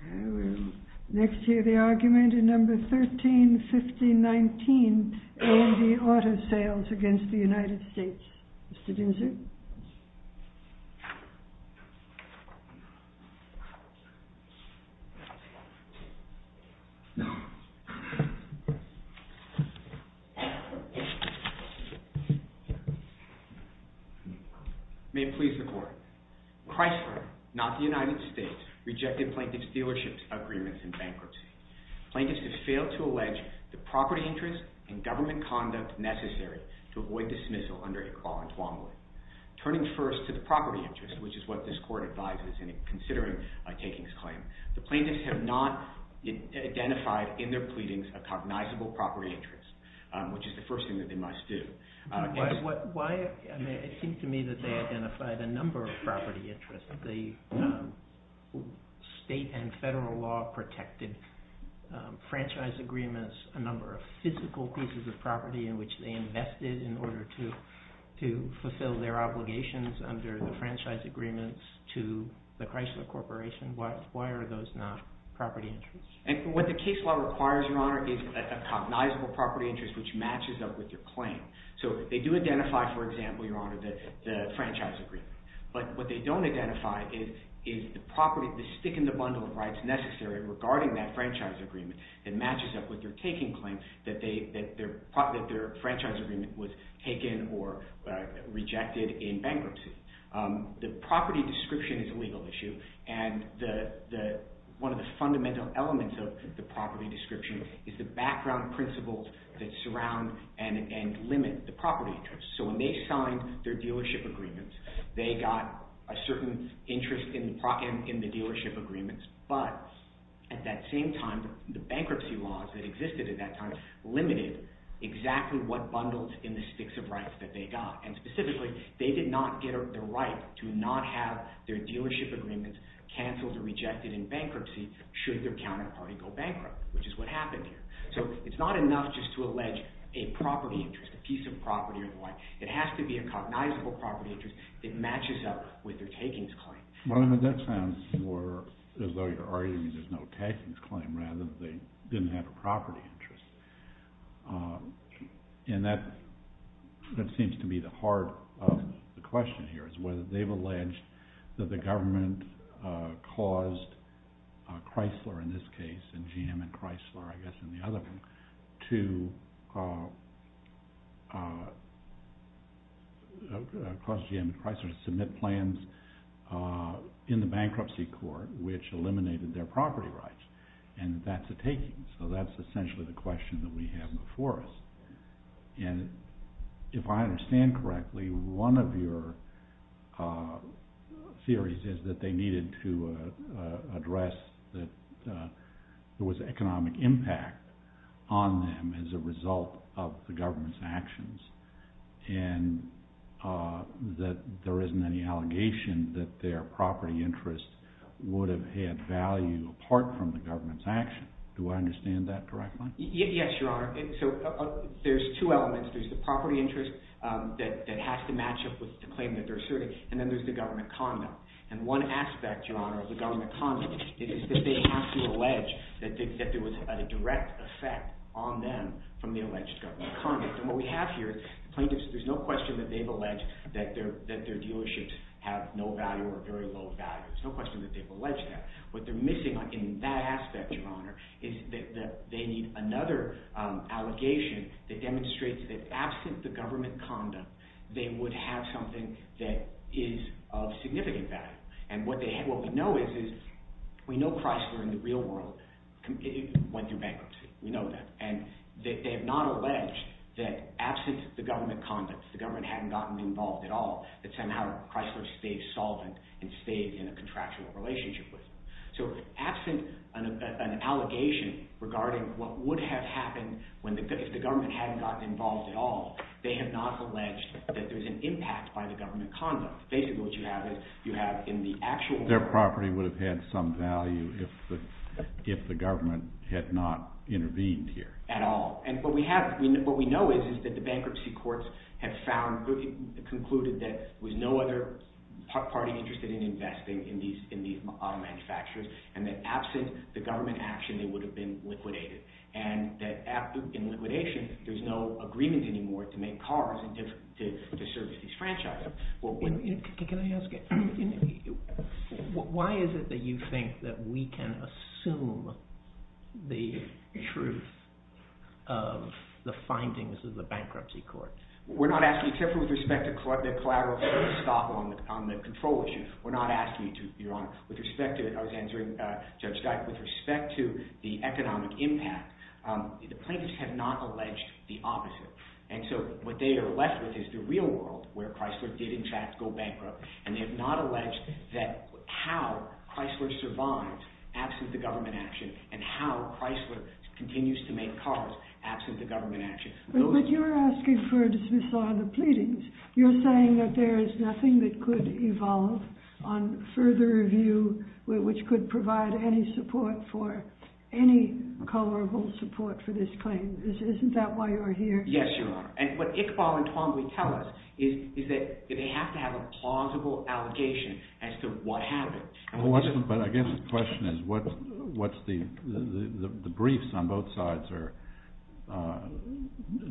I will next hear the argument in No. 13-15-19, A&E Auto Sales against the United States, Mr. Dinser. May it please the Court, Chrysler, not the United States, rejected Plaintiff's Dealerships Agreement in bankruptcy. Plaintiffs have failed to allege the property interest and government conduct necessary to avoid dismissal under a crawl-and-twombly. Turning first to the property interest, which is what this Court advises in considering a takings claim, the plaintiffs have not identified in their pleadings a cognizable property interest, which is the first thing that they must do. Why? I mean, it seems to me that they identified a number of property interests, the state and federal law-protected franchise agreements, a number of physical pieces of property in which they invested in order to fulfill their obligations under the franchise agreements to the Chrysler Corporation. Why are those not property interests? And what the case law requires, Your Honor, is a cognizable property interest which matches up with your claim. So they do identify, for example, Your Honor, the franchise agreement, but what they don't identify is the property, the stick-in-the-bundle of rights necessary regarding that franchise agreement that matches up with their taking claim that their franchise agreement was taken or rejected in bankruptcy. The property description is a legal issue, and one of the fundamental elements of the property description is the background principles that surround and limit the property interest. So when they signed their dealership agreements, they got a certain interest in the dealership agreements, but at that same time, the bankruptcy laws that existed at that time limited exactly what bundles in the sticks of rights that they got, and specifically, they did not get the right to not have their dealership agreements canceled or rejected in bankruptcy should their counterparty go bankrupt, which is what happened here. So it's not enough just to allege a property interest, a piece of property or what. It has to be a cognizable property interest that matches up with their takings claim. Well, that sounds more as though you're arguing there's no takings claim, rather they didn't have a property interest, and that seems to be the heart of the question here, is whether they've alleged that the government caused Chrysler, in this case, and GM and Chrysler, I guess, in the other one, to cause GM and Chrysler to submit plans in the bankruptcy court, which eliminated their property rights, and that's a taking. So that's essentially the question that we have before us. And if I understand correctly, one of your theories is that they needed to address that there was economic impact on them as a result of the government's actions, and that there isn't any allegation that their property interest would have had value apart from the government's action. Do I understand that correctly? Yes, Your Honor. So there's two elements. There's the property interest that has to match up with the claim that they're asserting, and then there's the government conduct. And one aspect, Your Honor, of the government conduct is that they have to allege that there was a direct effect on them from the alleged government conduct. And what we have here is plaintiffs, there's no question that they've alleged that their dealerships have no value or very low value. There's no question that they've alleged that. What they're missing in that aspect, Your Honor, is that they need another allegation that demonstrates that absent the government conduct, they would have something that is of significant value. And what we know is we know Chrysler in the real world went through bankruptcy. We know that. And they have not alleged that absent the government conduct, the government hadn't gotten involved at all, that somehow Chrysler stayed solvent and stayed in a contractual relationship with them. So absent an allegation regarding what would have happened if the government hadn't gotten involved at all, they have not alleged that there's an impact by the government conduct. Basically what you have is you have in the actual... Their property would have had some value if the government had not intervened here. At all. And what we have, what we know is that the bankruptcy courts have found, concluded that there was no other party interested in investing in these auto manufacturers and that absent the government action, they would have been liquidated. And that in liquidation, there's no agreement anymore to make cars and to service these franchises. Can I ask you, why is it that you think that we can assume the truth of the findings of the bankruptcy court? We're not asking, except with respect to the collateral stop on the control issue, we're not asking, Your Honor, with respect to, I was answering Judge Guy, with respect to the economic impact, the plaintiffs have not alleged the opposite. And so what they are left with is the real world where Chrysler did in fact go bankrupt. And they have not alleged that how Chrysler survives absent the government action and how Chrysler continues to make cars absent the government action. But you're asking for a dismissal on the pleadings. You're saying that there is nothing that could evolve on further review which could provide any support for, any tolerable support for this claim. Isn't that why you're here? Yes, Your Honor. And what Iqbal and Twombly tell us is that they have to have a plausible allegation as to what happened. But I guess the question is what's the, the briefs on both sides are,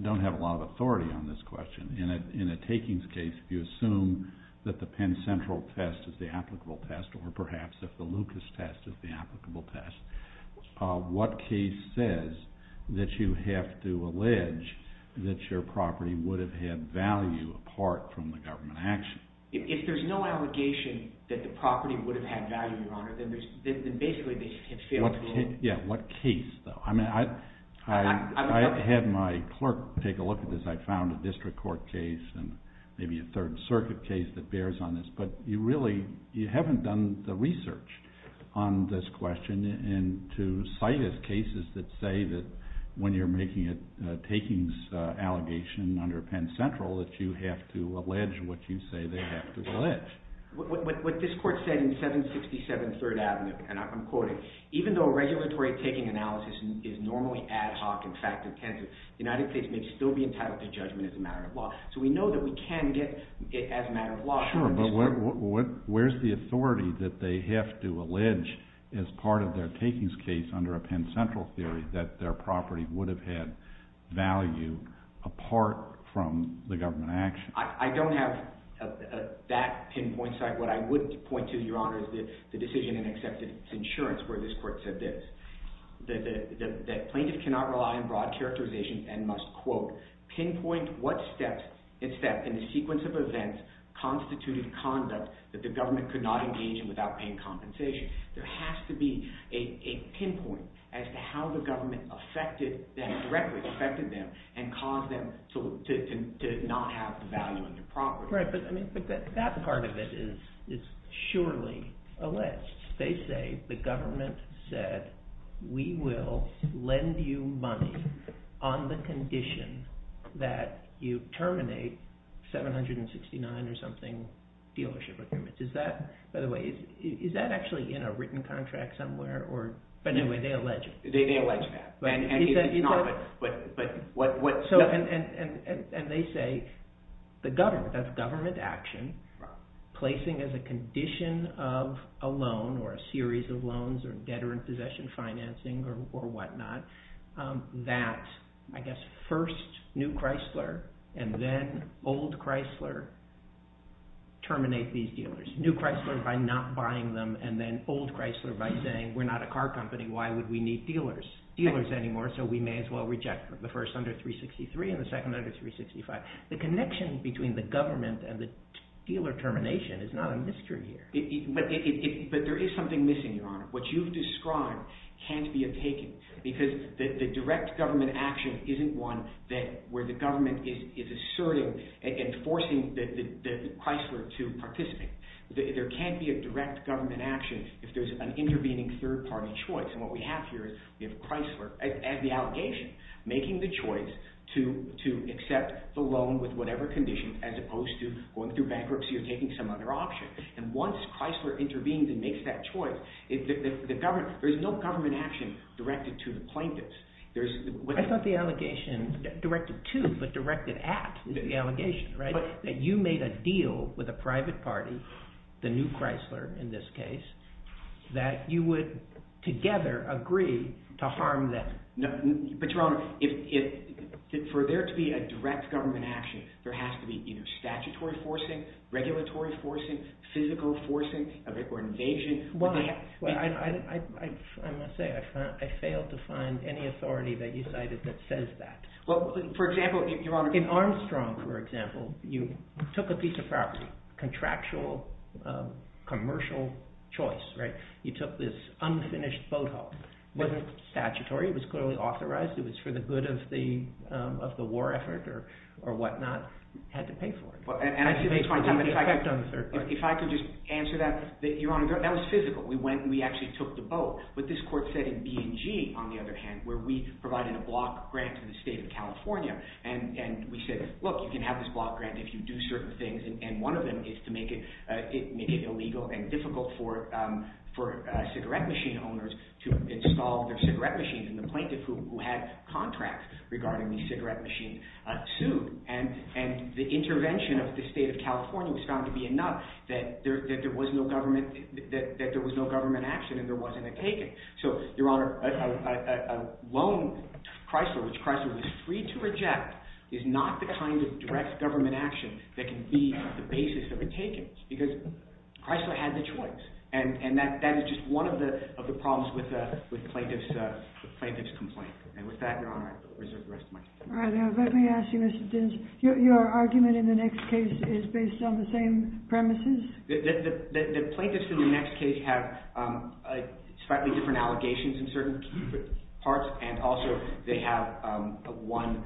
don't have a lot of authority on this question. In a takings case, if you assume that the Penn Central test is the applicable test or perhaps if the Lucas test is the applicable test, what case says that you have to allege that your property would have had value apart from the government action? If there's no allegation that the property would have had value, Your Honor, then there's, then basically they have failed to rule. Yeah, what case though? I mean, I, I, I had my clerk take a look at this. I found a district court case and maybe a third circuit case that bears on this. But you really, you haven't done the research on this question and to cite as cases that say that when you're making a takings allegation under Penn Central that you have to allege what you say they have to allege. What, what, what this court said in 767 Third Avenue, and I'm quoting, even though regulatory taking analysis is normally ad hoc and fact-intensive, the United States may still be entitled to judgment as a matter of law. Sure, but what, what, where's the authority that they have to allege as part of their takings case under a Penn Central theory that their property would have had value apart from the government action? I, I don't have a, a, a, that pinpoint site. What I would point to, Your Honor, is the, the decision in accepted insurance where this court said this, that, that, that plaintiff cannot rely on broad characterization and must, quote, pinpoint what steps and steps in the sequence of events constituted conduct that the government could not engage in without paying compensation. There has to be a, a pinpoint as to how the government affected them, directly affected them, and caused them to, to, to not have the value of their property. Right, but, I mean, but that, that part of it is, is surely alleged. They say the government said, we will lend you money on the condition that you terminate 769 or something dealership agreements. Is that, by the way, is, is that actually in a written contract somewhere, or, but anyway, they allege it. They, they allege that. And, and, it's, it's not, but, but, what, what. So, and, and, and, and they say the government, that's government action, placing as a condition of a loan, or a series of loans, or debtor in possession financing, or, or whatnot, that, I guess, first New Chrysler, and then Old Chrysler terminate these dealers. New Chrysler by not buying them, and then Old Chrysler by saying, we're not a car company, why would we need dealers, dealers anymore, so we may as well reject them. The first under 363, and the second under 365. The connection between the government and the dealer termination is not a mystery here. It, it, but, it, it, but there is something missing, Your Honor. What you've described can't be a taking, because the, the direct government action isn't one that, where the government is, is asserting, and, and forcing the, the, the Chrysler to participate. There, there can't be a direct government action if there's an intervening third party choice. And what we have here is we have Chrysler, as, as the allegation, making the choice to, to accept the loan with whatever condition, as opposed to going through bankruptcy or taking some other option. And once Chrysler intervenes and makes that choice, it, the, the, the government, there's no government action directed to the plaintiffs. There's, what. I thought the allegation directed to, but directed at, is the allegation, right? But. That you made a deal with a private party, the new Chrysler in this case, that you would together agree to harm them. No, but Your Honor, if, if, for there to be a direct government action, there has to be either statutory forcing, regulatory forcing, physical forcing, or invasion. Well, I, I, I, I must say I found, I failed to find any authority that you cited that says that. Well, for example, Your Honor. In Armstrong, for example, you took a piece of property, contractual, commercial choice, right? You took this unfinished boathouse. It wasn't statutory, it was clearly authorized, it was for the good of the, of the war effort or, or whatnot, had to pay for it. Well, and I see that's my time, but if I could, if I could just answer that, that, Your Honor, that was physical. We went and we actually took the boat. What this court said in B&G, on the other hand, where we provided a block grant to the state of California, and, and we said, look, you can have this block grant if you do certain things, and, and one of them is to make it, make it illegal and difficult for, for cigarette machine owners to install their cigarette machines. And the plaintiff who, who had contracts regarding the cigarette machine sued, and, and the intervention of the state of California was found to be enough that there, that there was no government, that, that there was no government action and there wasn't a taken. So, Your Honor, a, a, a, a loan, Chrysler, which Chrysler was free to reject, is not the kind of direct government action that can be the basis of a taken, because Chrysler had the choice. And, and that, that is just one of the, of the problems with the, with plaintiff's, the plaintiff's complaint. And with that, Your Honor, I reserve the rest of my time. All right. Now, let me ask you, Mr. Dins, your, your argument in the next case is based on the same premises? The, the, the, the plaintiffs in the next case have slightly different allegations in certain parts, and also they have one,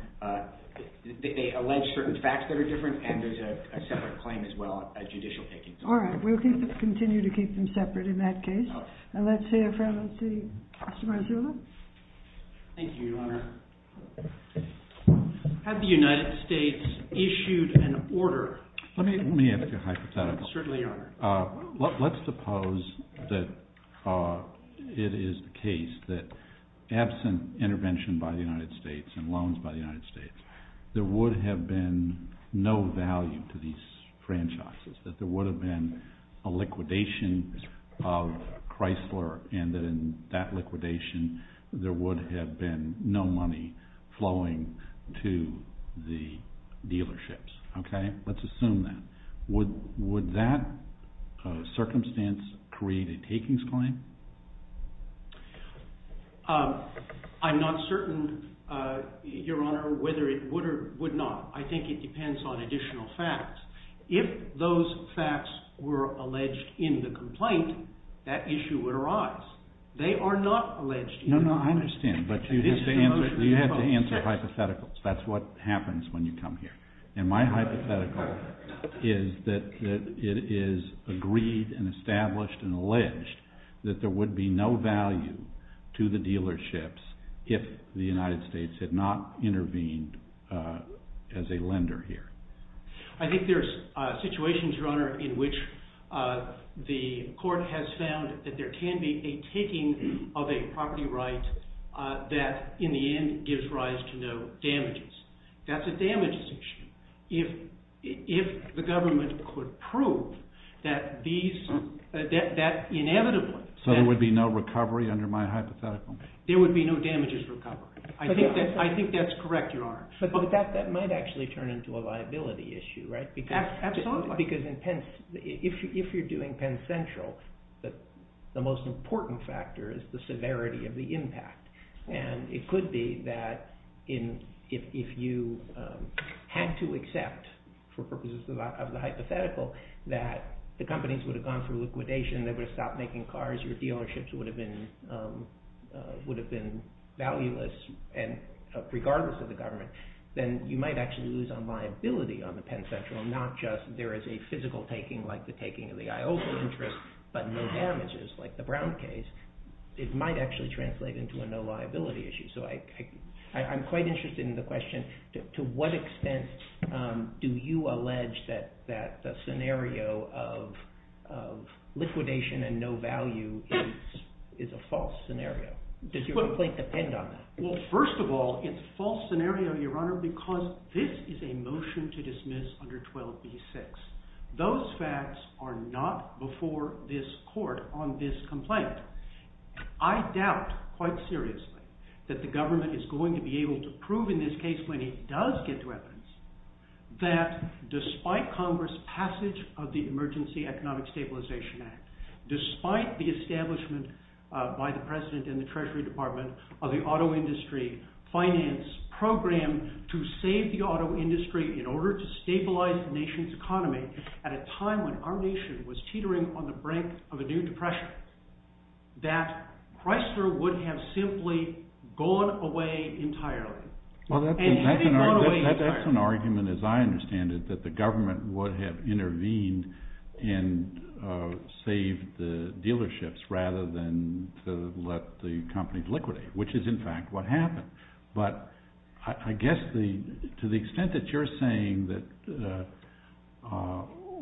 they, they allege certain facts that are different and there's a separate claim as well, a judicial taking. All right. We'll keep, continue to keep them separate in that case. And let's hear from, let's see, Mr. Marzullo. Thank you, Your Honor. Have the United States issued an order? Let me, let me ask you a hypothetical. Certainly, Your Honor. Let, let's suppose that it is the case that absent intervention by the United States and loans by the United States, there would have been no value to these franchises, that there would have been a liquidation of Chrysler, and that in that liquidation, there would have been no money flowing to the dealerships. Okay? Let's assume that. Would, would that circumstance create a takings claim? I'm not certain, Your Honor, whether it would or would not. I think it depends on additional facts. If those facts were alleged in the complaint, that issue would arise. They are not alleged. No, no, I understand, but you have to answer, you have to answer hypotheticals. That's what happens when you come here. And my hypothetical is that it is agreed and established and alleged that there would be no value to the dealerships if the United States had not intervened as a lender here. I think there's situations, Your Honor, in which the court has found that there can be a taking of a property right that in the end gives rise to no damages. That's a damages issue. If, if the government could prove that these, that, that inevitably. So there would be no recovery under my hypothetical? There would be no damages recovery. I think that, I think that's correct, Your Honor. But that might actually turn into a liability issue, right? Absolutely. Because in Penn, if you're doing Penn Central, the most important factor is the severity of the impact. And it could be that if you had to accept for purposes of the hypothetical that the companies would have gone through liquidation, they would have stopped making cars, your dealerships would have been, would have been valueless. And regardless of the government, then you might actually lose on liability on the Penn Central, not just there is a physical taking like the taking of the Iowa interest, but no damages like the Brown case. It might actually translate into a no liability issue. So I, I, I'm quite interested in the question to what extent do you allege that, that the scenario of, of liquidation and no value is, is a false scenario? Does your complaint depend on that? Well, first of all, it's a false scenario, Your Honor, because this is a motion to dismiss under 12b-6. Those facts are not before this court on this complaint. I doubt, quite seriously, that the government is going to be able to prove in this case, when it does get to evidence, that despite Congress' passage of the Emergency Economic Stabilization Act, despite the establishment by the President and the Treasury Department of the auto industry finance program to save the auto industry in order to stabilize the nation's economy at a time when our nation was teetering on the brink of a new depression, that Chrysler would have simply gone away entirely. Well, that's an argument, as I understand it, that the government would have intervened and saved the dealerships rather than to let the companies liquidate, which is in fact what happened. But I guess the, to the extent that you're saying that,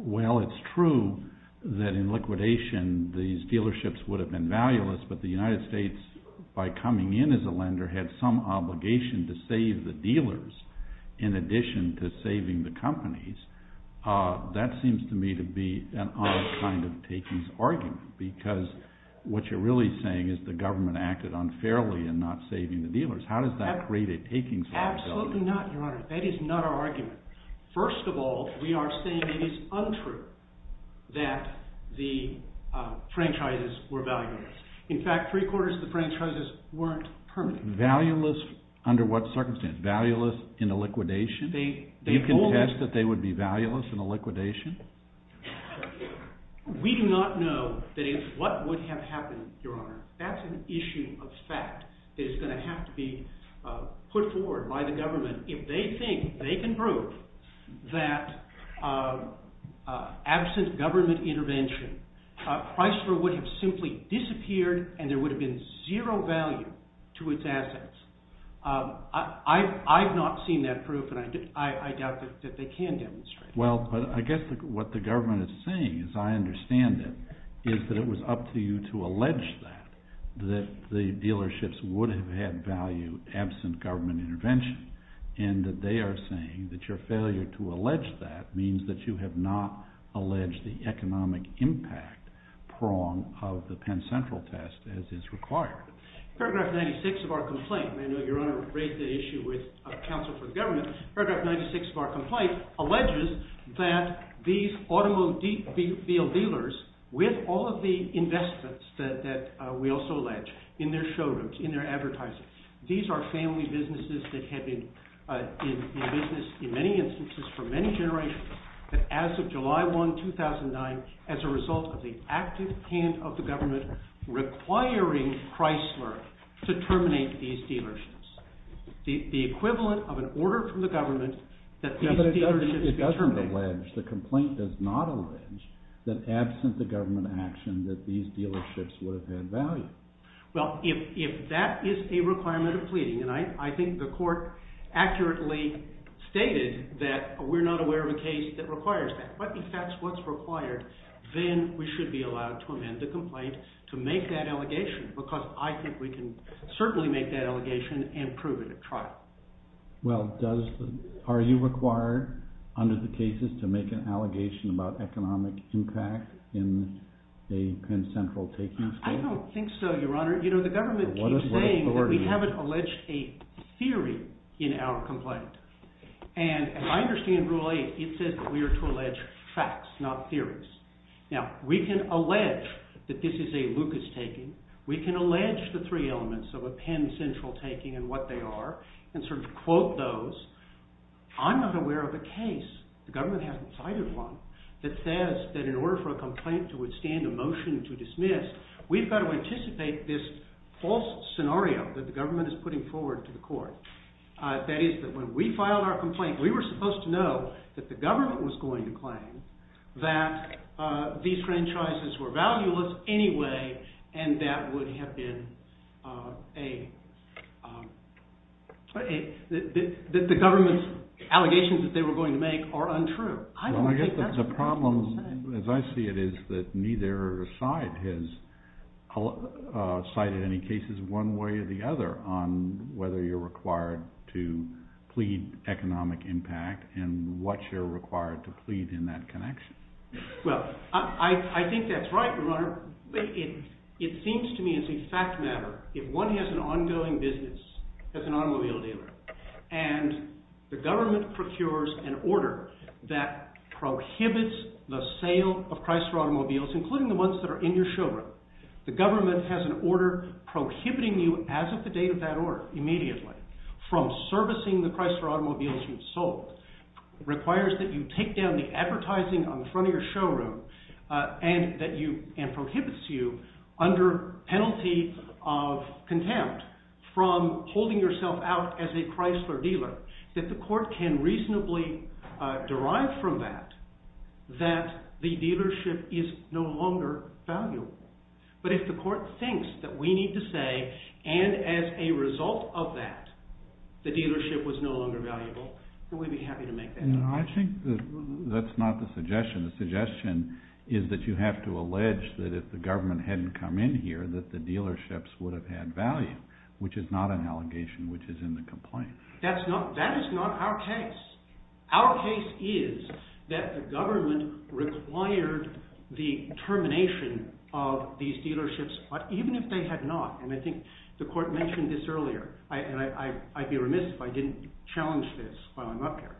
well, it's true that in liquidation these dealerships would have been valueless, but the United States, by coming in as a lender, had some obligation to save the dealers in addition to saving the companies, that seems to me to be an odd kind of takings argument, because what you're really saying is the government acted unfairly in not saving the dealers. How does that create a takings liability? Absolutely not, Your Honor. That is not our argument. First of all, we are saying it is untrue that the franchises were valueless. In fact, three-quarters of the franchises weren't permanent. Valueless under what circumstances? Valueless in the liquidation? Do you contest that they would be valueless in the liquidation? We do not know that is what would have happened, Your Honor. That's an issue of fact that is going to have to be put forward by the government. If they think they can prove that absent government intervention, Chrysler would have simply disappeared and there would have been zero value to its assets. I've not seen that proof, and I doubt that they can demonstrate that. Well, but I guess what the government is saying, as I understand it, is that it was up to you to allege that the dealerships would have had value absent government intervention, and that they are saying that your failure to allege that means that you have not alleged the economic impact prong of the Penn Central test as is required. Paragraph 96 of our complaint, and I know Your Honor raised that issue with counsel for the government, Paragraph 96 of our complaint alleges that these automobile dealers, with all of the investments that we also allege in their showrooms, in their advertising, these are family businesses that have been in business in many instances for many generations, that as of July 1, 2009, as a result of the active hand of the government requiring Chrysler to terminate these dealerships, the equivalent of an order from the government that these dealerships be terminated. No, but it doesn't allege, the complaint does not allege that absent the government action that these dealerships would have had value. Well, if that is a requirement of pleading, and I think the court accurately stated that we're not aware of a case that requires that, but if that's what's required, then we should be allowed to amend the complaint to make that allegation, because I think we can certainly make that allegation and prove it at trial. Well, are you required under the cases to make an allegation about economic impact in a Penn Central taking? I don't think so, Your Honor. You know, the government keeps saying that we haven't alleged a theory in our complaint, and as I understand Rule 8, it says that we are to allege facts, not theories. Now, we can allege that this is a Lucas taking, we can allege the three elements of a Penn Central taking and what they are, and sort of quote those. I'm not aware of a case, the government hasn't cited one, that says that in order for a complaint to withstand a motion to dismiss, we've got to anticipate this false scenario that the government is putting forward to the court. That is, that when we filed our complaint, we were supposed to know that the government was going to claim that these franchises were valueless anyway, and that would have been a, that the government's allegations that they were going to make are untrue. Well, I guess the problem, as I see it, is that neither side has cited any cases one way or the other on whether you're required to plead economic impact and what you're required to plead in that connection. Well, I think that's right, Your Honor. It seems to me as a fact matter, if one has an ongoing business as an automobile dealer, and the government procures an order that prohibits the sale of Chrysler Automobiles, including the ones that are in your showroom, the government has an order prohibiting you, as of the date of that order, immediately, from servicing the Chrysler Automobiles you've sold, requires that you take down the advertising on the front of your showroom, and prohibits you, under penalty of contempt, from holding yourself out as a Chrysler dealer, that the court can reasonably derive from that that the dealership is no longer valuable. But if the court thinks that we need to say, and as a result of that, the dealership was no longer valuable, then we'd be happy to make that claim. I think that that's not the suggestion. The suggestion is that you have to allege that if the government hadn't come in here, that the dealerships would have had value, which is not an allegation which is in the complaint. That is not our case. Our case is that the government required the termination of these dealerships, even if they had not. And I think the court mentioned this earlier, and I'd be remiss if I didn't challenge this while I'm up here.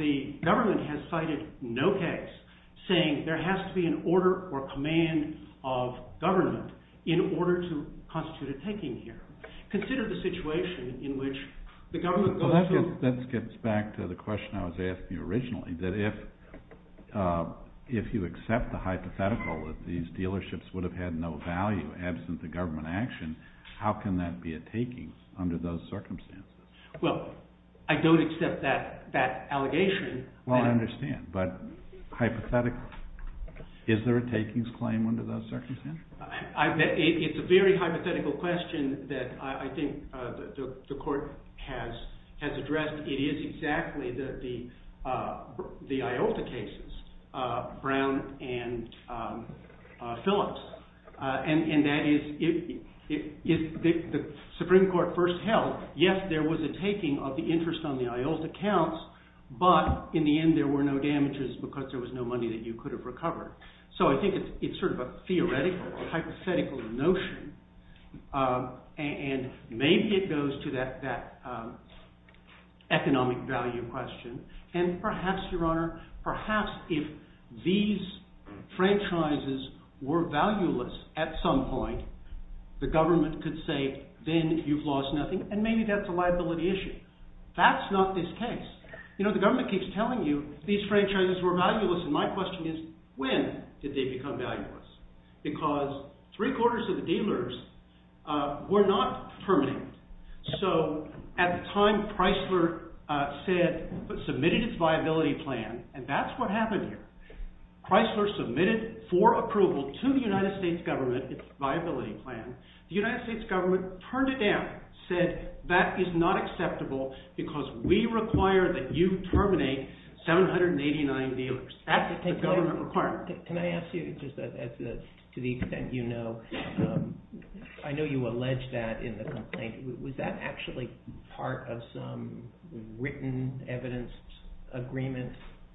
The government has cited no case saying there has to be an order or command of government in order to constitute a taking here. Consider the situation in which the government goes to… How can that be a taking under those circumstances? Well, I don't accept that allegation. Well, I understand, but hypothetically, is there a takings claim under those circumstances? It's a very hypothetical question that I think the court has addressed. It is exactly the IOLTA cases, Brown and Phillips. And that is, if the Supreme Court first held, yes, there was a taking of the interest on the IOLTA accounts, but in the end there were no damages because there was no money that you could have recovered. So I think it's sort of a theoretical, hypothetical notion. And maybe it goes to that economic value question. And perhaps, Your Honor, perhaps if these franchises were valueless at some point, the government could say, then you've lost nothing, and maybe that's a liability issue. That's not this case. You know, the government keeps telling you these franchises were valueless, and my question is, when did they become valueless? Because three-quarters of the dealers were not terminated. So at the time, Chrysler submitted its viability plan, and that's what happened here. Chrysler submitted for approval to the United States government its viability plan. The United States government turned it down, said that is not acceptable because we require that you terminate 789 dealers. That's the government requirement. Can I ask you, just to the extent you know, I know you allege that in the complaint. Was that actually part of some written evidence agreement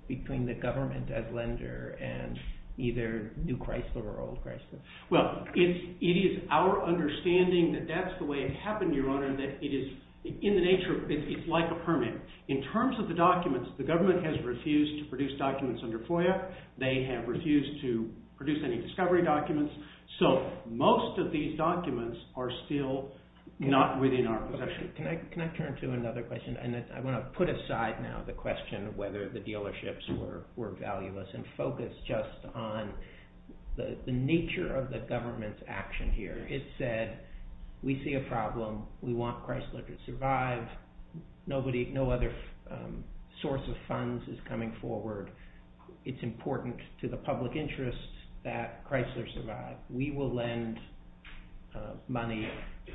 between the government as lender and either new Chrysler or old Chrysler? Well, it is our understanding that that's the way it happened, Your Honor, that it is in the nature, it's like a permit. In terms of the documents, the government has refused to produce documents under FOIA. They have refused to produce any discovery documents. So most of these documents are still not within our possession. Can I turn to another question? And I want to put aside now the question of whether the dealerships were valueless and focus just on the nature of the government's action here. It said, we see a problem. We want Chrysler to survive. Nobody, no other source of funds is coming forward. It's important to the public interest that Chrysler survive. We will lend money,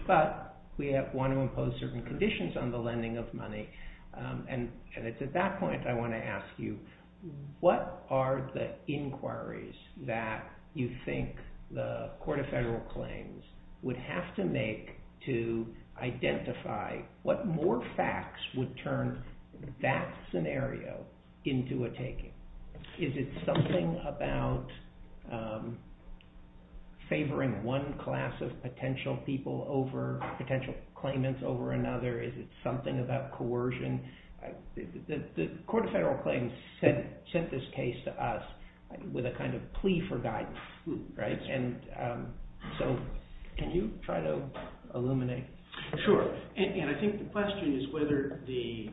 but we want to impose certain conditions on the lending of money. And it's at that point I want to ask you, what are the inquiries that you think the Court of Federal Claims would have to make to identify what more facts would turn that scenario into a taking? Is it something about favoring one class of potential people over potential claimants over another? Is it something about coercion? The Court of Federal Claims sent this case to us with a kind of plea for guidance, right? And so can you try to illuminate? Sure. And I think the question is whether the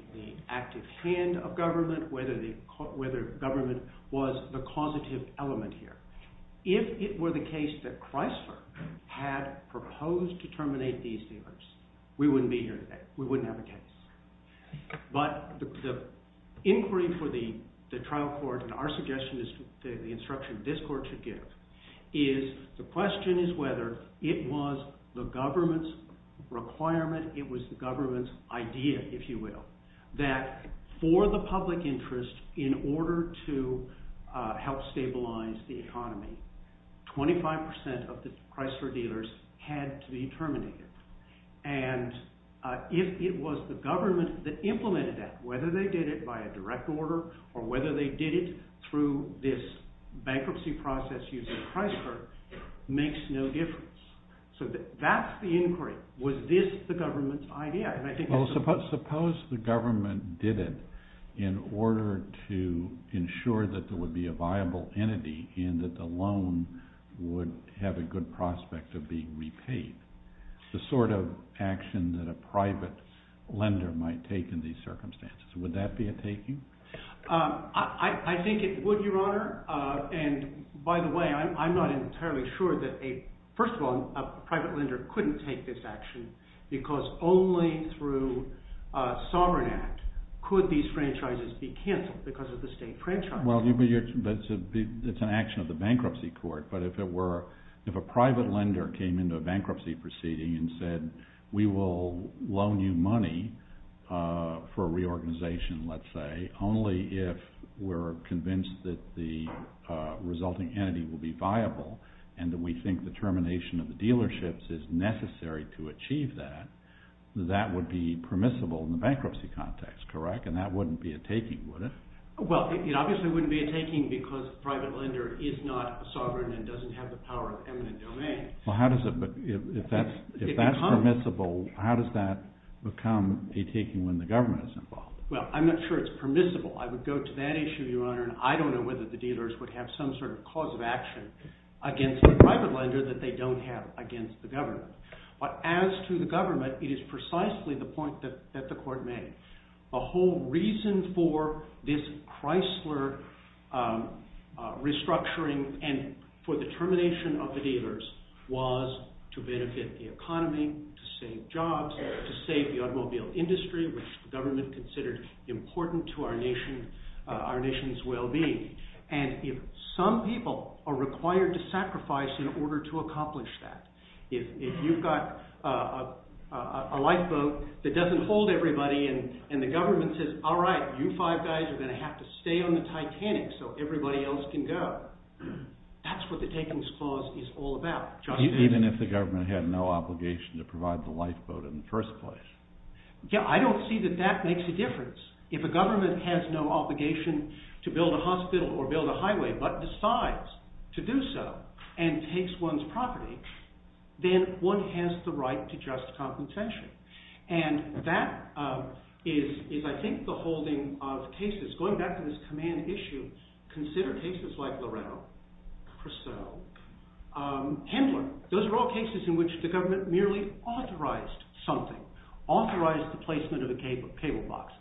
active hand of government, whether government was the causative element here. If it were the case that Chrysler had proposed to terminate these dealers, we wouldn't be here today. We wouldn't have a case. But the inquiry for the trial court, and our suggestion is the instruction this court should give, is the question is whether it was the government's requirement, it was the government's idea, if you will, that for the public interest in order to help stabilize the economy, 25% of the Chrysler dealers had to be terminated. And if it was the government that implemented that, whether they did it by a direct order or whether they did it through this bankruptcy process using Chrysler, makes no difference. So that's the inquiry. Was this the government's idea? Well, suppose the government did it in order to ensure that there would be a viable entity and that the loan would have a good prospect of being repaid, the sort of action that a private lender might take in these circumstances. Would that be a taking? I think it would, Your Honor. And by the way, I'm not entirely sure that a – first of all, a private lender couldn't take this action because only through a sovereign act could these franchises be canceled because of the state franchise. Well, it's an action of the bankruptcy court, but if it were – if a private lender came into a bankruptcy proceeding and said, we will loan you money for reorganization, let's say, only if we're convinced that the resulting entity will be viable and that we think the termination of the dealerships is necessary to achieve that, that would be permissible in the bankruptcy context, correct? And that wouldn't be a taking, would it? Well, it obviously wouldn't be a taking because a private lender is not sovereign and doesn't have the power of eminent domain. Well, how does it – if that's permissible, how does that become a taking when the government is involved? Well, I'm not sure it's permissible. I would go to that issue, Your Honor, and I don't know whether the dealers would have some sort of cause of action against the private lender that they don't have against the government. But as to the government, it is precisely the point that the court made. The whole reason for this Chrysler restructuring and for the termination of the dealers was to benefit the economy, to save jobs, to save the automobile industry, which the government considered important to our nation's well-being. And if some people are required to sacrifice in order to accomplish that, if you've got a lifeboat that doesn't hold everybody and the government says, all right, you five guys are going to have to stay on the Titanic so everybody else can go, that's what the takings clause is all about. Even if the government had no obligation to provide the lifeboat in the first place? I don't see that that makes a difference. If a government has no obligation to build a hospital or build a highway but decides to do so and takes one's property, then one has the right to just compensation. And that is, I think, the holding of cases. Going back to this command issue, consider cases like Loretto, Chrysler, Handler. Those are all cases in which the government merely authorized something, authorized the placement of a cable box,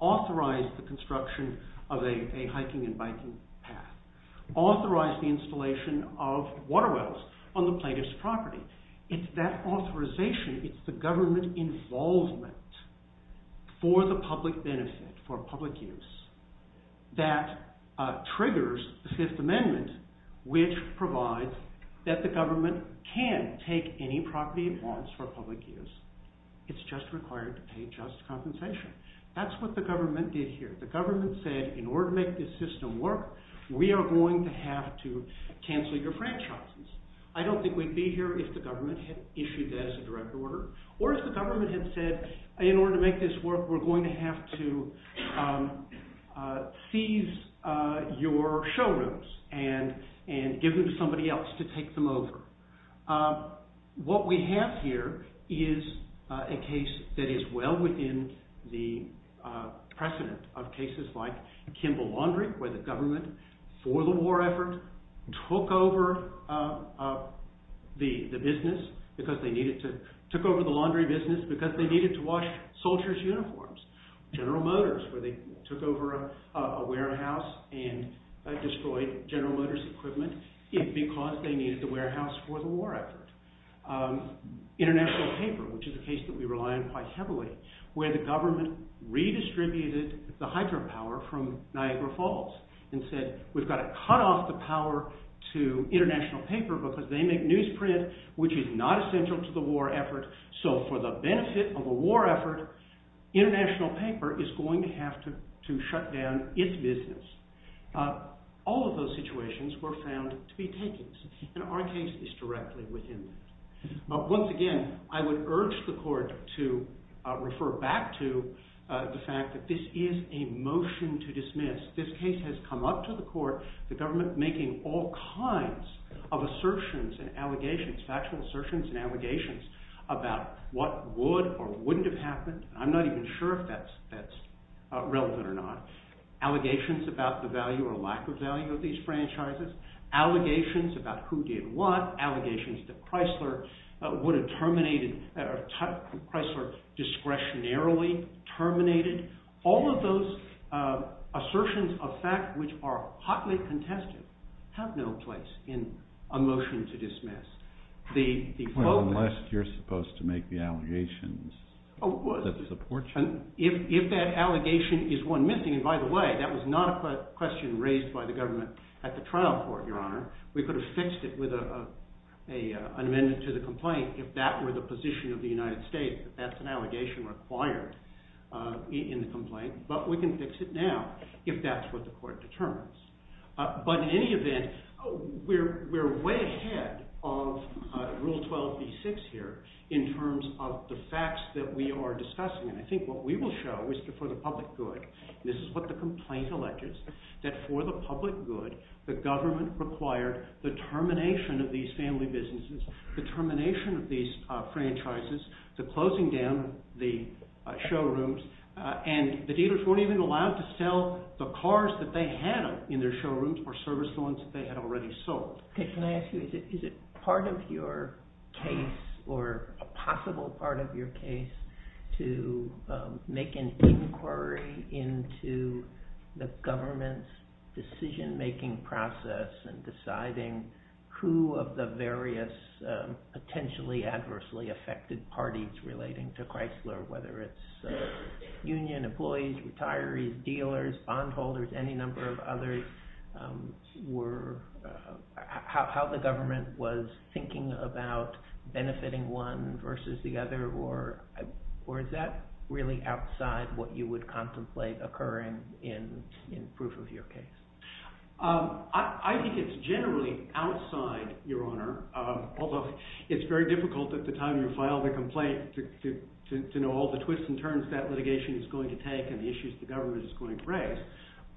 authorized the construction of a hiking and biking path, authorized the installation of water wells on the plaintiff's property. It's that authorization, it's the government involvement for the public benefit, for public use, that triggers the Fifth Amendment which provides that the government can take any property it wants for public use. It's just required to pay just compensation. That's what the government did here. The government said, in order to make this system work, we are going to have to cancel your franchises. I don't think we'd be here if the government had issued that as a direct order or if the government had said, in order to make this work, we're going to have to seize your showrooms and give them to somebody else to take them over. What we have here is a case that is well within the precedent of cases like Kimball Laundry where the government, for the war effort, took over the laundry business because they needed to wash soldiers' uniforms. General Motors where they took over a warehouse and destroyed General Motors equipment because they needed the warehouse for the war effort. International Paper, which is a case that we rely on quite heavily, where the government redistributed the hydropower from Niagara Falls and said, we've got to cut off the power to International Paper because they make newsprint which is not essential to the war effort. For the benefit of a war effort, International Paper is going to have to shut down its business. All of those situations were found to be takings and our case is directly within that. Once again, I would urge the court to refer back to the fact that this is a motion to dismiss. This case has come up to the court, the government making all kinds of assertions and allegations, factual assertions and allegations about what would or wouldn't have happened. I'm not even sure if that's relevant or not. Allegations about the value or lack of value of these franchises. Allegations about who did what. Allegations that Chrysler discretionarily terminated. All of those assertions of fact which are hotly contested have no place in a motion to dismiss. Unless you're supposed to make the allegations that support you. But we can fix it now if that's what the court determines. But in any event, we're way ahead of Rule 12B6 here in terms of the facts that we are discussing. And I think what we will show is for the public good. This is what the complaint alleges. That for the public good, the government required the termination of these family businesses, the termination of these franchises, the closing down of the showrooms. And the dealers weren't even allowed to sell the cars that they had in their showrooms or service lawns that they had already sold. Can I ask you, is it part of your case or a possible part of your case to make an inquiry into the government's decision making process and deciding who of the various potentially adversely affected parties relating to Chrysler, whether it's union employees, retirees, dealers, bondholders, any number of others, how the government was thinking about benefiting one versus the other? Or is that really outside what you would contemplate occurring in proof of your case? It's very difficult at the time you file the complaint to know all the twists and turns that litigation is going to take and the issues the government is going to raise.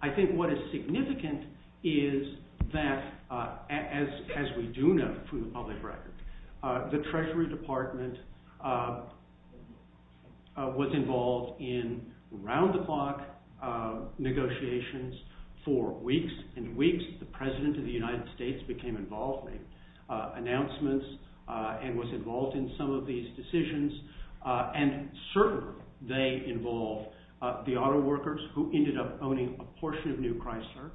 I think what is significant is that as we do know from the public record, the Treasury Department was involved in round-the-clock negotiations for weeks and weeks. The President of the United States became involved in announcements and was involved in some of these decisions. And certainly they involved the auto workers who ended up owning a portion of new Chrysler.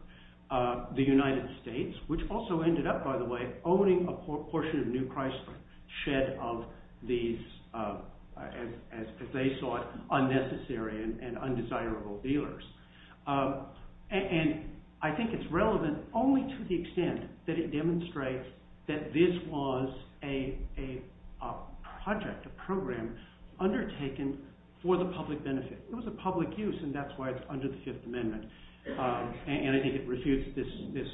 The United States, which also ended up, by the way, owning a portion of new Chrysler shed of these, as they saw it, unnecessary and undesirable dealers. And I think it's relevant only to the extent that it demonstrates that this was a project, a program undertaken for the public benefit. It was a public use and that's why it's under the Fifth Amendment. And I think it refutes this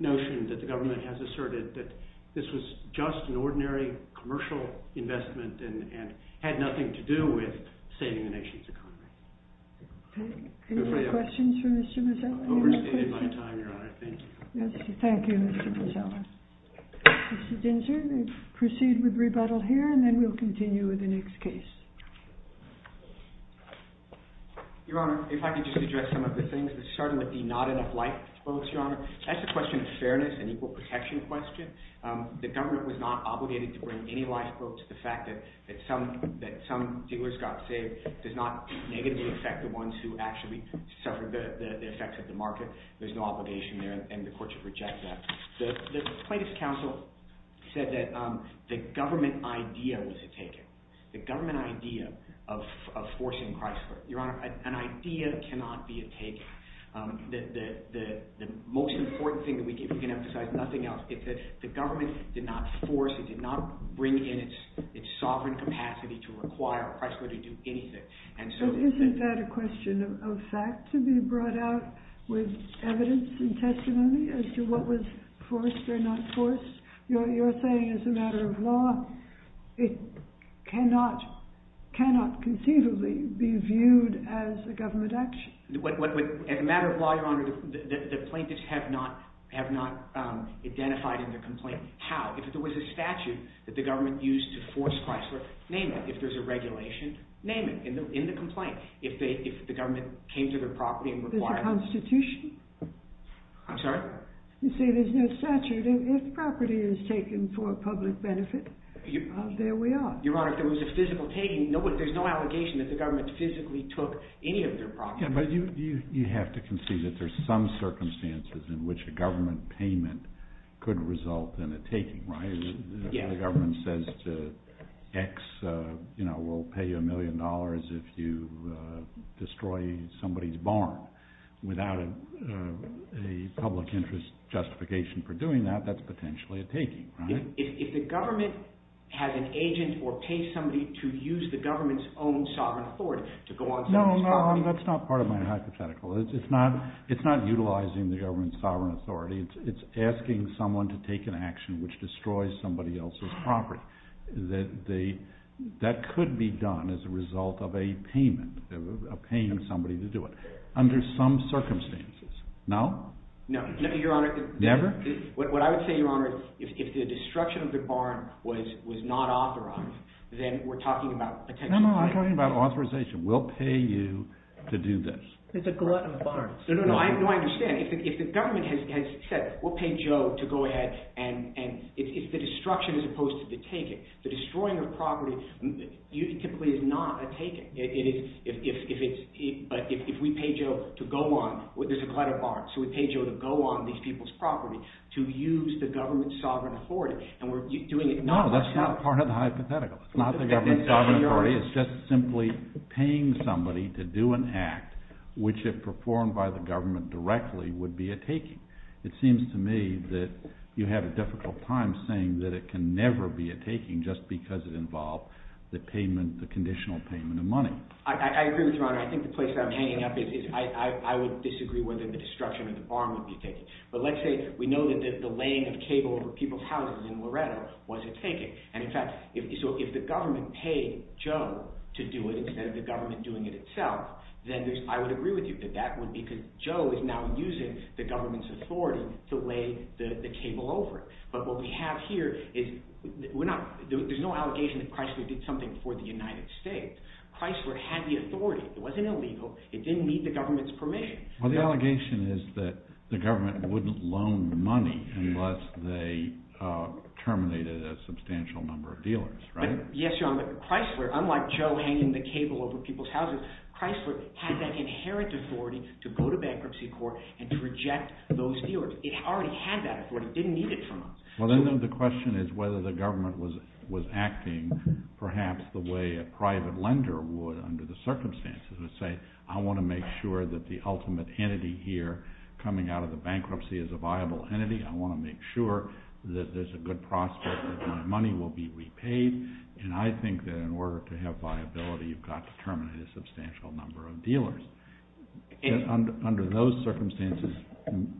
notion that the government has asserted that this was just an ordinary commercial investment and had nothing to do with saving the nation's economy. Any more questions for Mr. Mazzella? I've overstated my time, Your Honor. Thank you. Thank you, Mr. Mazzella. Mr. Dinser, we'll proceed with rebuttal here and then we'll continue with the next case. Your Honor, if I could just address some of the things. There certainly would be not enough lifeboats, Your Honor. That's a question of fairness and equal protection question. The government was not obligated to bring any lifeboats. The fact that some dealers got saved does not negatively affect the ones who actually suffered the effects of the market. There's no obligation there and the court should reject that. The plaintiff's counsel said that the government idea was a taking. The government idea of forcing Chrysler. Your Honor, an idea cannot be a taking. The most important thing that we can emphasize, nothing else, is that the government did not force. It did not bring in its sovereign capacity to require Chrysler to do anything. Isn't that a question of fact to be brought out with evidence and testimony as to what was forced or not forced? You're saying as a matter of law, it cannot conceivably be viewed as a government action. As a matter of law, Your Honor, the plaintiffs have not identified in their complaint how. If there was a statute that the government used to force Chrysler, name it. If there's a regulation, name it in the complaint. If the government came to their property and required it. There's a constitution. I'm sorry? You see, there's no statute. If property is taken for public benefit, there we are. Your Honor, if there was a physical taking, there's no allegation that the government physically took any of their property. Yeah, but you have to concede that there's some circumstances in which a government payment could result in a taking, right? Yeah. If the government says to X, you know, we'll pay you a million dollars if you destroy somebody's barn. Without a public interest justification for doing that, that's potentially a taking, right? If the government has an agent or pays somebody to use the government's own sovereign authority to go on somebody's property. No, no, that's not part of my hypothetical. It's not utilizing the government's sovereign authority. It's asking someone to take an action which destroys somebody else's property. That could be done as a result of a payment, of paying somebody to do it under some circumstances. No? No. No, Your Honor. Never? What I would say, Your Honor, is if the destruction of the barn was not authorized, then we're talking about a potential taking. No, no, I'm talking about authorization. We'll pay you to do this. It's a glut of barns. No, no, no. I understand. If the government has said, we'll pay Joe to go ahead, and it's the destruction as opposed to the taking. The destroying of property typically is not a taking. But if we pay Joe to go on, there's a glut of barns. So we pay Joe to go on these people's property to use the government's sovereign authority, and we're doing it not. No, that's not part of the hypothetical. It's not the government's sovereign authority. It's just simply paying somebody to do an act which, if performed by the government directly, would be a taking. It seems to me that you have a difficult time saying that it can never be a taking just because it involved the payment, the conditional payment of money. I agree with you, Your Honor. I think the place that I'm hanging up is I would disagree whether the destruction of the barn would be a taking. But let's say we know that the laying of cable over people's houses in Loretto was a taking. And, in fact, so if the government paid Joe to do it instead of the government doing it itself, then I would agree with you that that would be because Joe is now using the government's authority to lay the cable over it. But what we have here is we're not – there's no allegation that Chrysler did something for the United States. Chrysler had the authority. It wasn't illegal. It didn't need the government's permission. Well, the allegation is that the government wouldn't loan money unless they terminated a substantial number of dealers, right? Yes, Your Honor. But Chrysler, unlike Joe hanging the cable over people's houses, Chrysler had that inherent authority to go to bankruptcy court and to reject those dealers. It already had that authority. It didn't need it from us. Well, then the question is whether the government was acting perhaps the way a private lender would under the circumstances and say, I want to make sure that the ultimate entity here coming out of the bankruptcy is a viable entity. I want to make sure that there's a good prospect that my money will be repaid, and I think that in order to have viability, you've got to terminate a substantial number of dealers. Under those circumstances,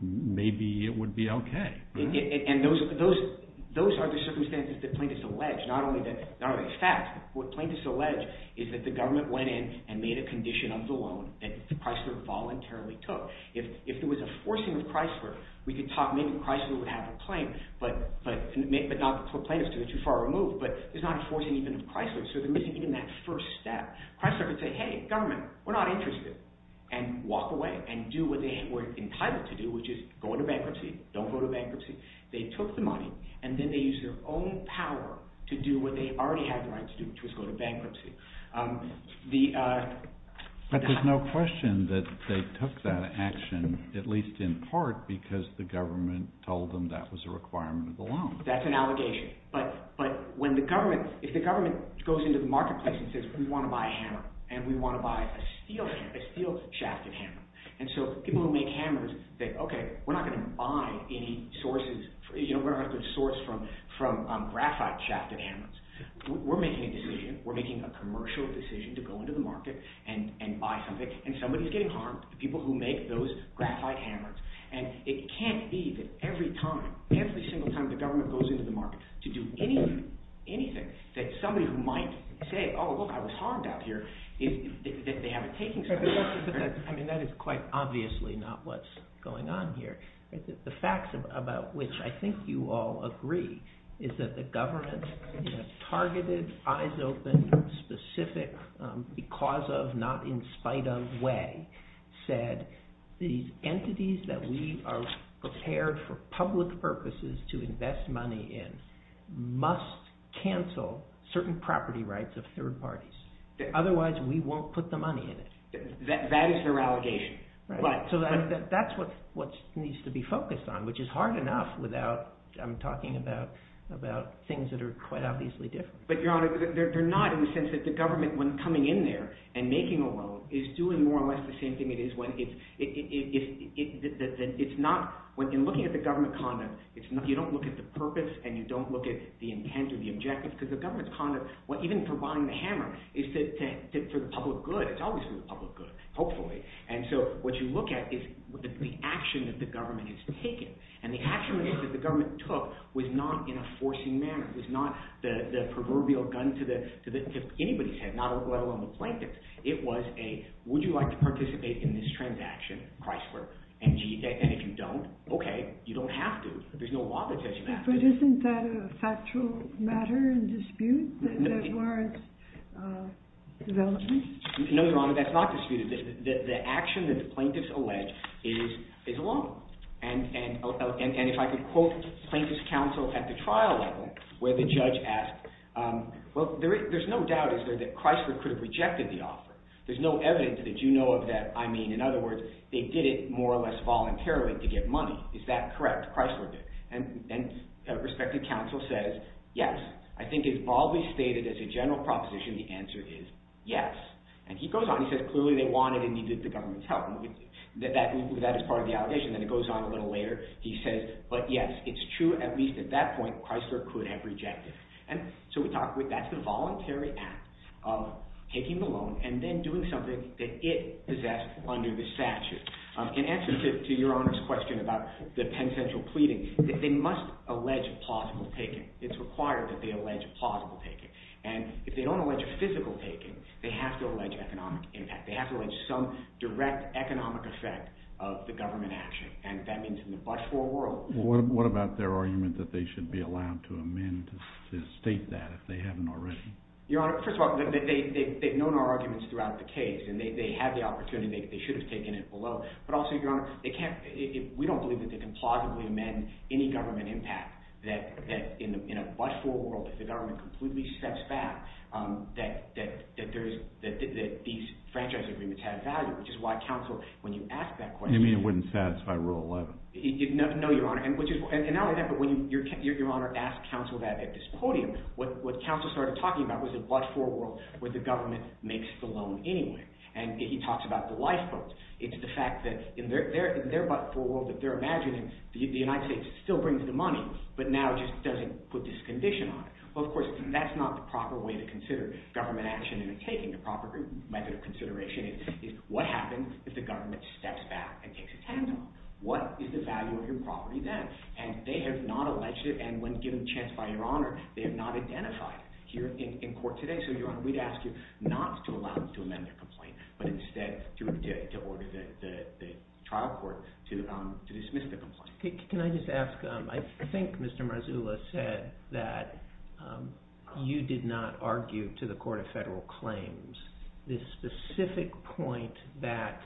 maybe it would be okay. And those are the circumstances that plaintiffs allege, not only the facts. What plaintiffs allege is that the government went in and made a condition of the loan that Chrysler voluntarily took. If there was a forcing of Chrysler, we could talk. Maybe Chrysler would have a claim, but not the plaintiffs because they're too far removed. But there's not a forcing even of Chrysler, so they're missing even that first step. Chrysler could say, hey, government, we're not interested, and walk away and do what they were entitled to do, which is go into bankruptcy. Don't go to bankruptcy. They took the money, and then they used their own power to do what they already had the right to do, which was go to bankruptcy. But there's no question that they took that action, at least in part, because the government told them that was a requirement of the loan. That's an allegation. But when the government – if the government goes into the marketplace and says, we want to buy a hammer, and we want to buy a steel shafted hammer. And so people who make hammers think, okay, we're not going to buy any sources – we're not going to source from graphite shafted hammers. We're making a decision. We're making a commercial decision to go into the market and buy something, and somebody is getting harmed, the people who make those graphite hammers. And it can't be that every time, every single time the government goes into the market to do anything, that somebody who might say, oh, look, I was harmed out here, that they have a taking side. I mean, that is quite obviously not what's going on here. The facts about which I think you all agree is that the government targeted, eyes open, specific, because of, not in spite of way, said these entities that we are prepared for public purposes to invest money in must cancel certain property rights of third parties. Otherwise, we won't put the money in it. That is their allegation. So that's what needs to be focused on, which is hard enough without – I'm talking about things that are quite obviously different. But Your Honor, they're not in the sense that the government, when coming in there and making a loan, is doing more or less the same thing it is when it's – it's not – in looking at the government conduct, you don't look at the purpose and you don't look at the intent or the objective, because the government's conduct, even for buying the hammer, is for the public good. It's always for the public good, hopefully. And so what you look at is the action that the government has taken. And the action that the government took was not in a forcing manner. It was not the proverbial gun to anybody's head, let alone the plaintiff's. It was a, would you like to participate in this transaction, Chrysler? And if you don't, okay, you don't have to. There's no law that says you have to. But isn't that a factual matter in dispute that warrants development? No, Your Honor, that's not disputed. The action that the plaintiffs allege is a loan. And if I could quote plaintiff's counsel at the trial level where the judge asked, well, there's no doubt, is there, that Chrysler could have rejected the offer. There's no evidence that you know of that I mean. In other words, they did it more or less voluntarily to get money. Is that correct? Chrysler did. And a respected counsel says, yes. I think it's broadly stated as a general proposition the answer is yes. And he goes on. He says clearly they wanted and needed the government's help. That is part of the allegation. Then it goes on a little later. He says, but yes, it's true at least at that point Chrysler could have rejected. And so we talk, that's the voluntary act of taking the loan and then doing something that it possessed under the statute. In answer to Your Honor's question about the Penn Central pleading, they must allege plausible taking. It's required that they allege plausible taking. And if they don't allege a physical taking, they have to allege economic impact. They have to allege some direct economic effect of the government action. And that means in the but-for world. What about their argument that they should be allowed to amend to state that if they haven't already? Your Honor, first of all, they've known our arguments throughout the case, and they have the opportunity. They should have taken it below. But also, Your Honor, we don't believe that they can plausibly amend any government impact. In a but-for world, if the government completely steps back, that these franchise agreements have value, which is why counsel, when you ask that question. You mean it wouldn't satisfy Rule 11? No, Your Honor. And not only that, but when Your Honor asked counsel that at this podium, what counsel started talking about was a but-for world where the government makes the loan anyway. And he talks about the lifeboats. It's the fact that in their but-for world that they're imagining, the United States still brings the money, but now just doesn't put this condition on it. Well, of course, that's not the proper way to consider government action in the taking, the proper method of consideration is what happens if the government steps back and takes its hands off? What is the value of your property then? And they have not alleged it, and when given a chance by Your Honor, they have not identified it here in court today. So, Your Honor, we'd ask you not to allow them to amend their complaint, but instead to order the trial court to dismiss the complaint. Can I just ask, I think Mr. Marzullo said that you did not argue to the Court of Federal Claims this specific point that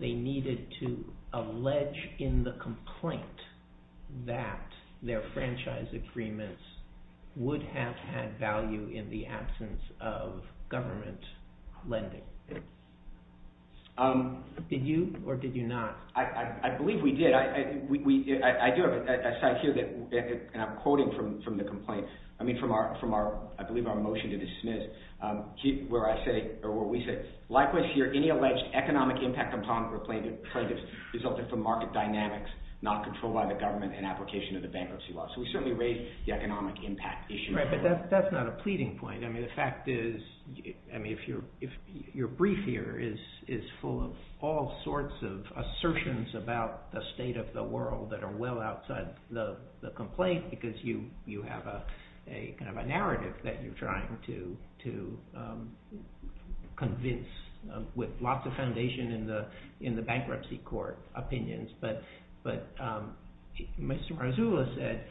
they needed to allege in the complaint that their franchise agreements would have had value in the absence of government lending. Did you or did you not? I believe we did. I do have a cite here, and I'm quoting from the complaint, I mean from our, I believe our motion to dismiss, where we say, likewise here, any alleged economic impact upon plaintiffs resulted from market dynamics not controlled by the government and application of the bankruptcy law. So, we certainly raise the economic impact issue. Right, but that's not a pleading point. I mean, the fact is, I mean, if your brief here is full of all sorts of assertions about the state of the world that are well outside the complaint because you have a kind of a narrative that you're trying to convince with lots of foundation in the bankruptcy court opinions, but Mr. Marzullo said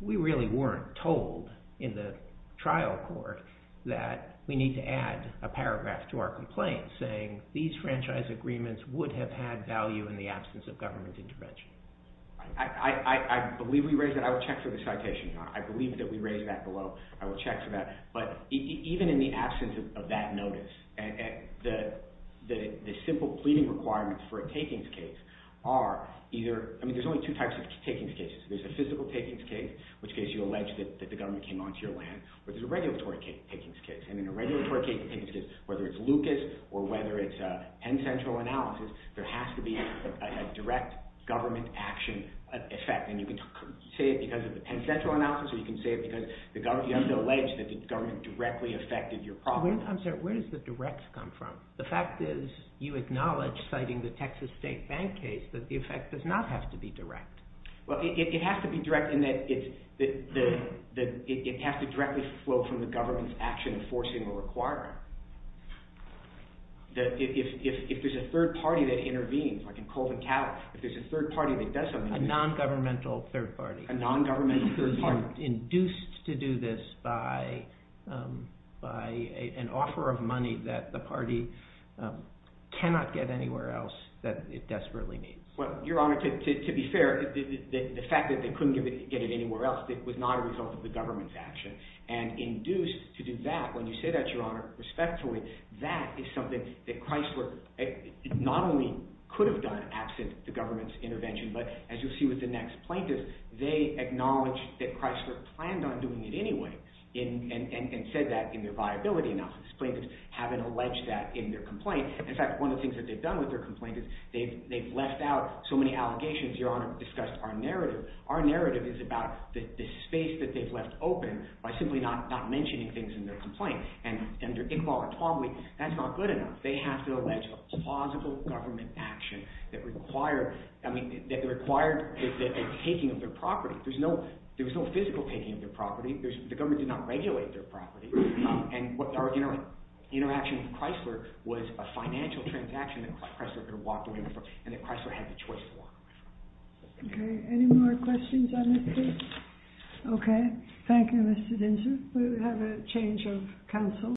we really weren't told in the trial court that we need to add a paragraph to our complaint saying these franchise agreements would have had value in the absence of government intervention. I believe we raised that. I will check for the citation. I believe that we raised that below. I will check for that. But even in the absence of that notice, the simple pleading requirements for a takings case are either, I mean, there's only two types of takings cases. There's a physical takings case, which case you allege that the government came onto your land, or there's a regulatory takings case. And in a regulatory takings case, whether it's Lucas or whether it's Penn Central analysis, there has to be a direct government action effect. And you can say it because of the Penn Central analysis, or you can say it because you have to allege that the government directly affected your problem. I'm sorry, where does the directs come from? The fact is you acknowledge, citing the Texas State Bank case, that the effect does not have to be direct. Well, it has to be direct in that it has to directly flow from the government's action enforcing the requirement. If there's a third party that intervenes, like in Colvin County, if there's a third party that does something... A non-governmental third party. A non-governmental third party. Induced to do this by an offer of money that the party cannot get anywhere else that it desperately needs. Well, Your Honor, to be fair, the fact that they couldn't get it anywhere else was not a result of the government's action. And induced to do that, when you say that, Your Honor, respectfully, that is something that Chrysler not only could have done absent the government's intervention, but as you'll see with the next plaintiff, they acknowledge that Chrysler planned on doing it anyway. And said that in their viability analysis. Plaintiffs haven't alleged that in their complaint. In fact, one of the things that they've done with their complaint is they've left out so many allegations, Your Honor, discussed our narrative. Their narrative is about the space that they've left open by simply not mentioning things in their complaint. And under Iqbal and Twombly, that's not good enough. They have to allege a plausible government action that required a taking of their property. There was no physical taking of their property. The government did not regulate their property. And our interaction with Chrysler was a financial transaction that Chrysler could have walked away from. And that Chrysler had the choice to walk away from. Okay. Any more questions on this case? Okay. Thank you, Mr. Dinser. We will have a change of counsel.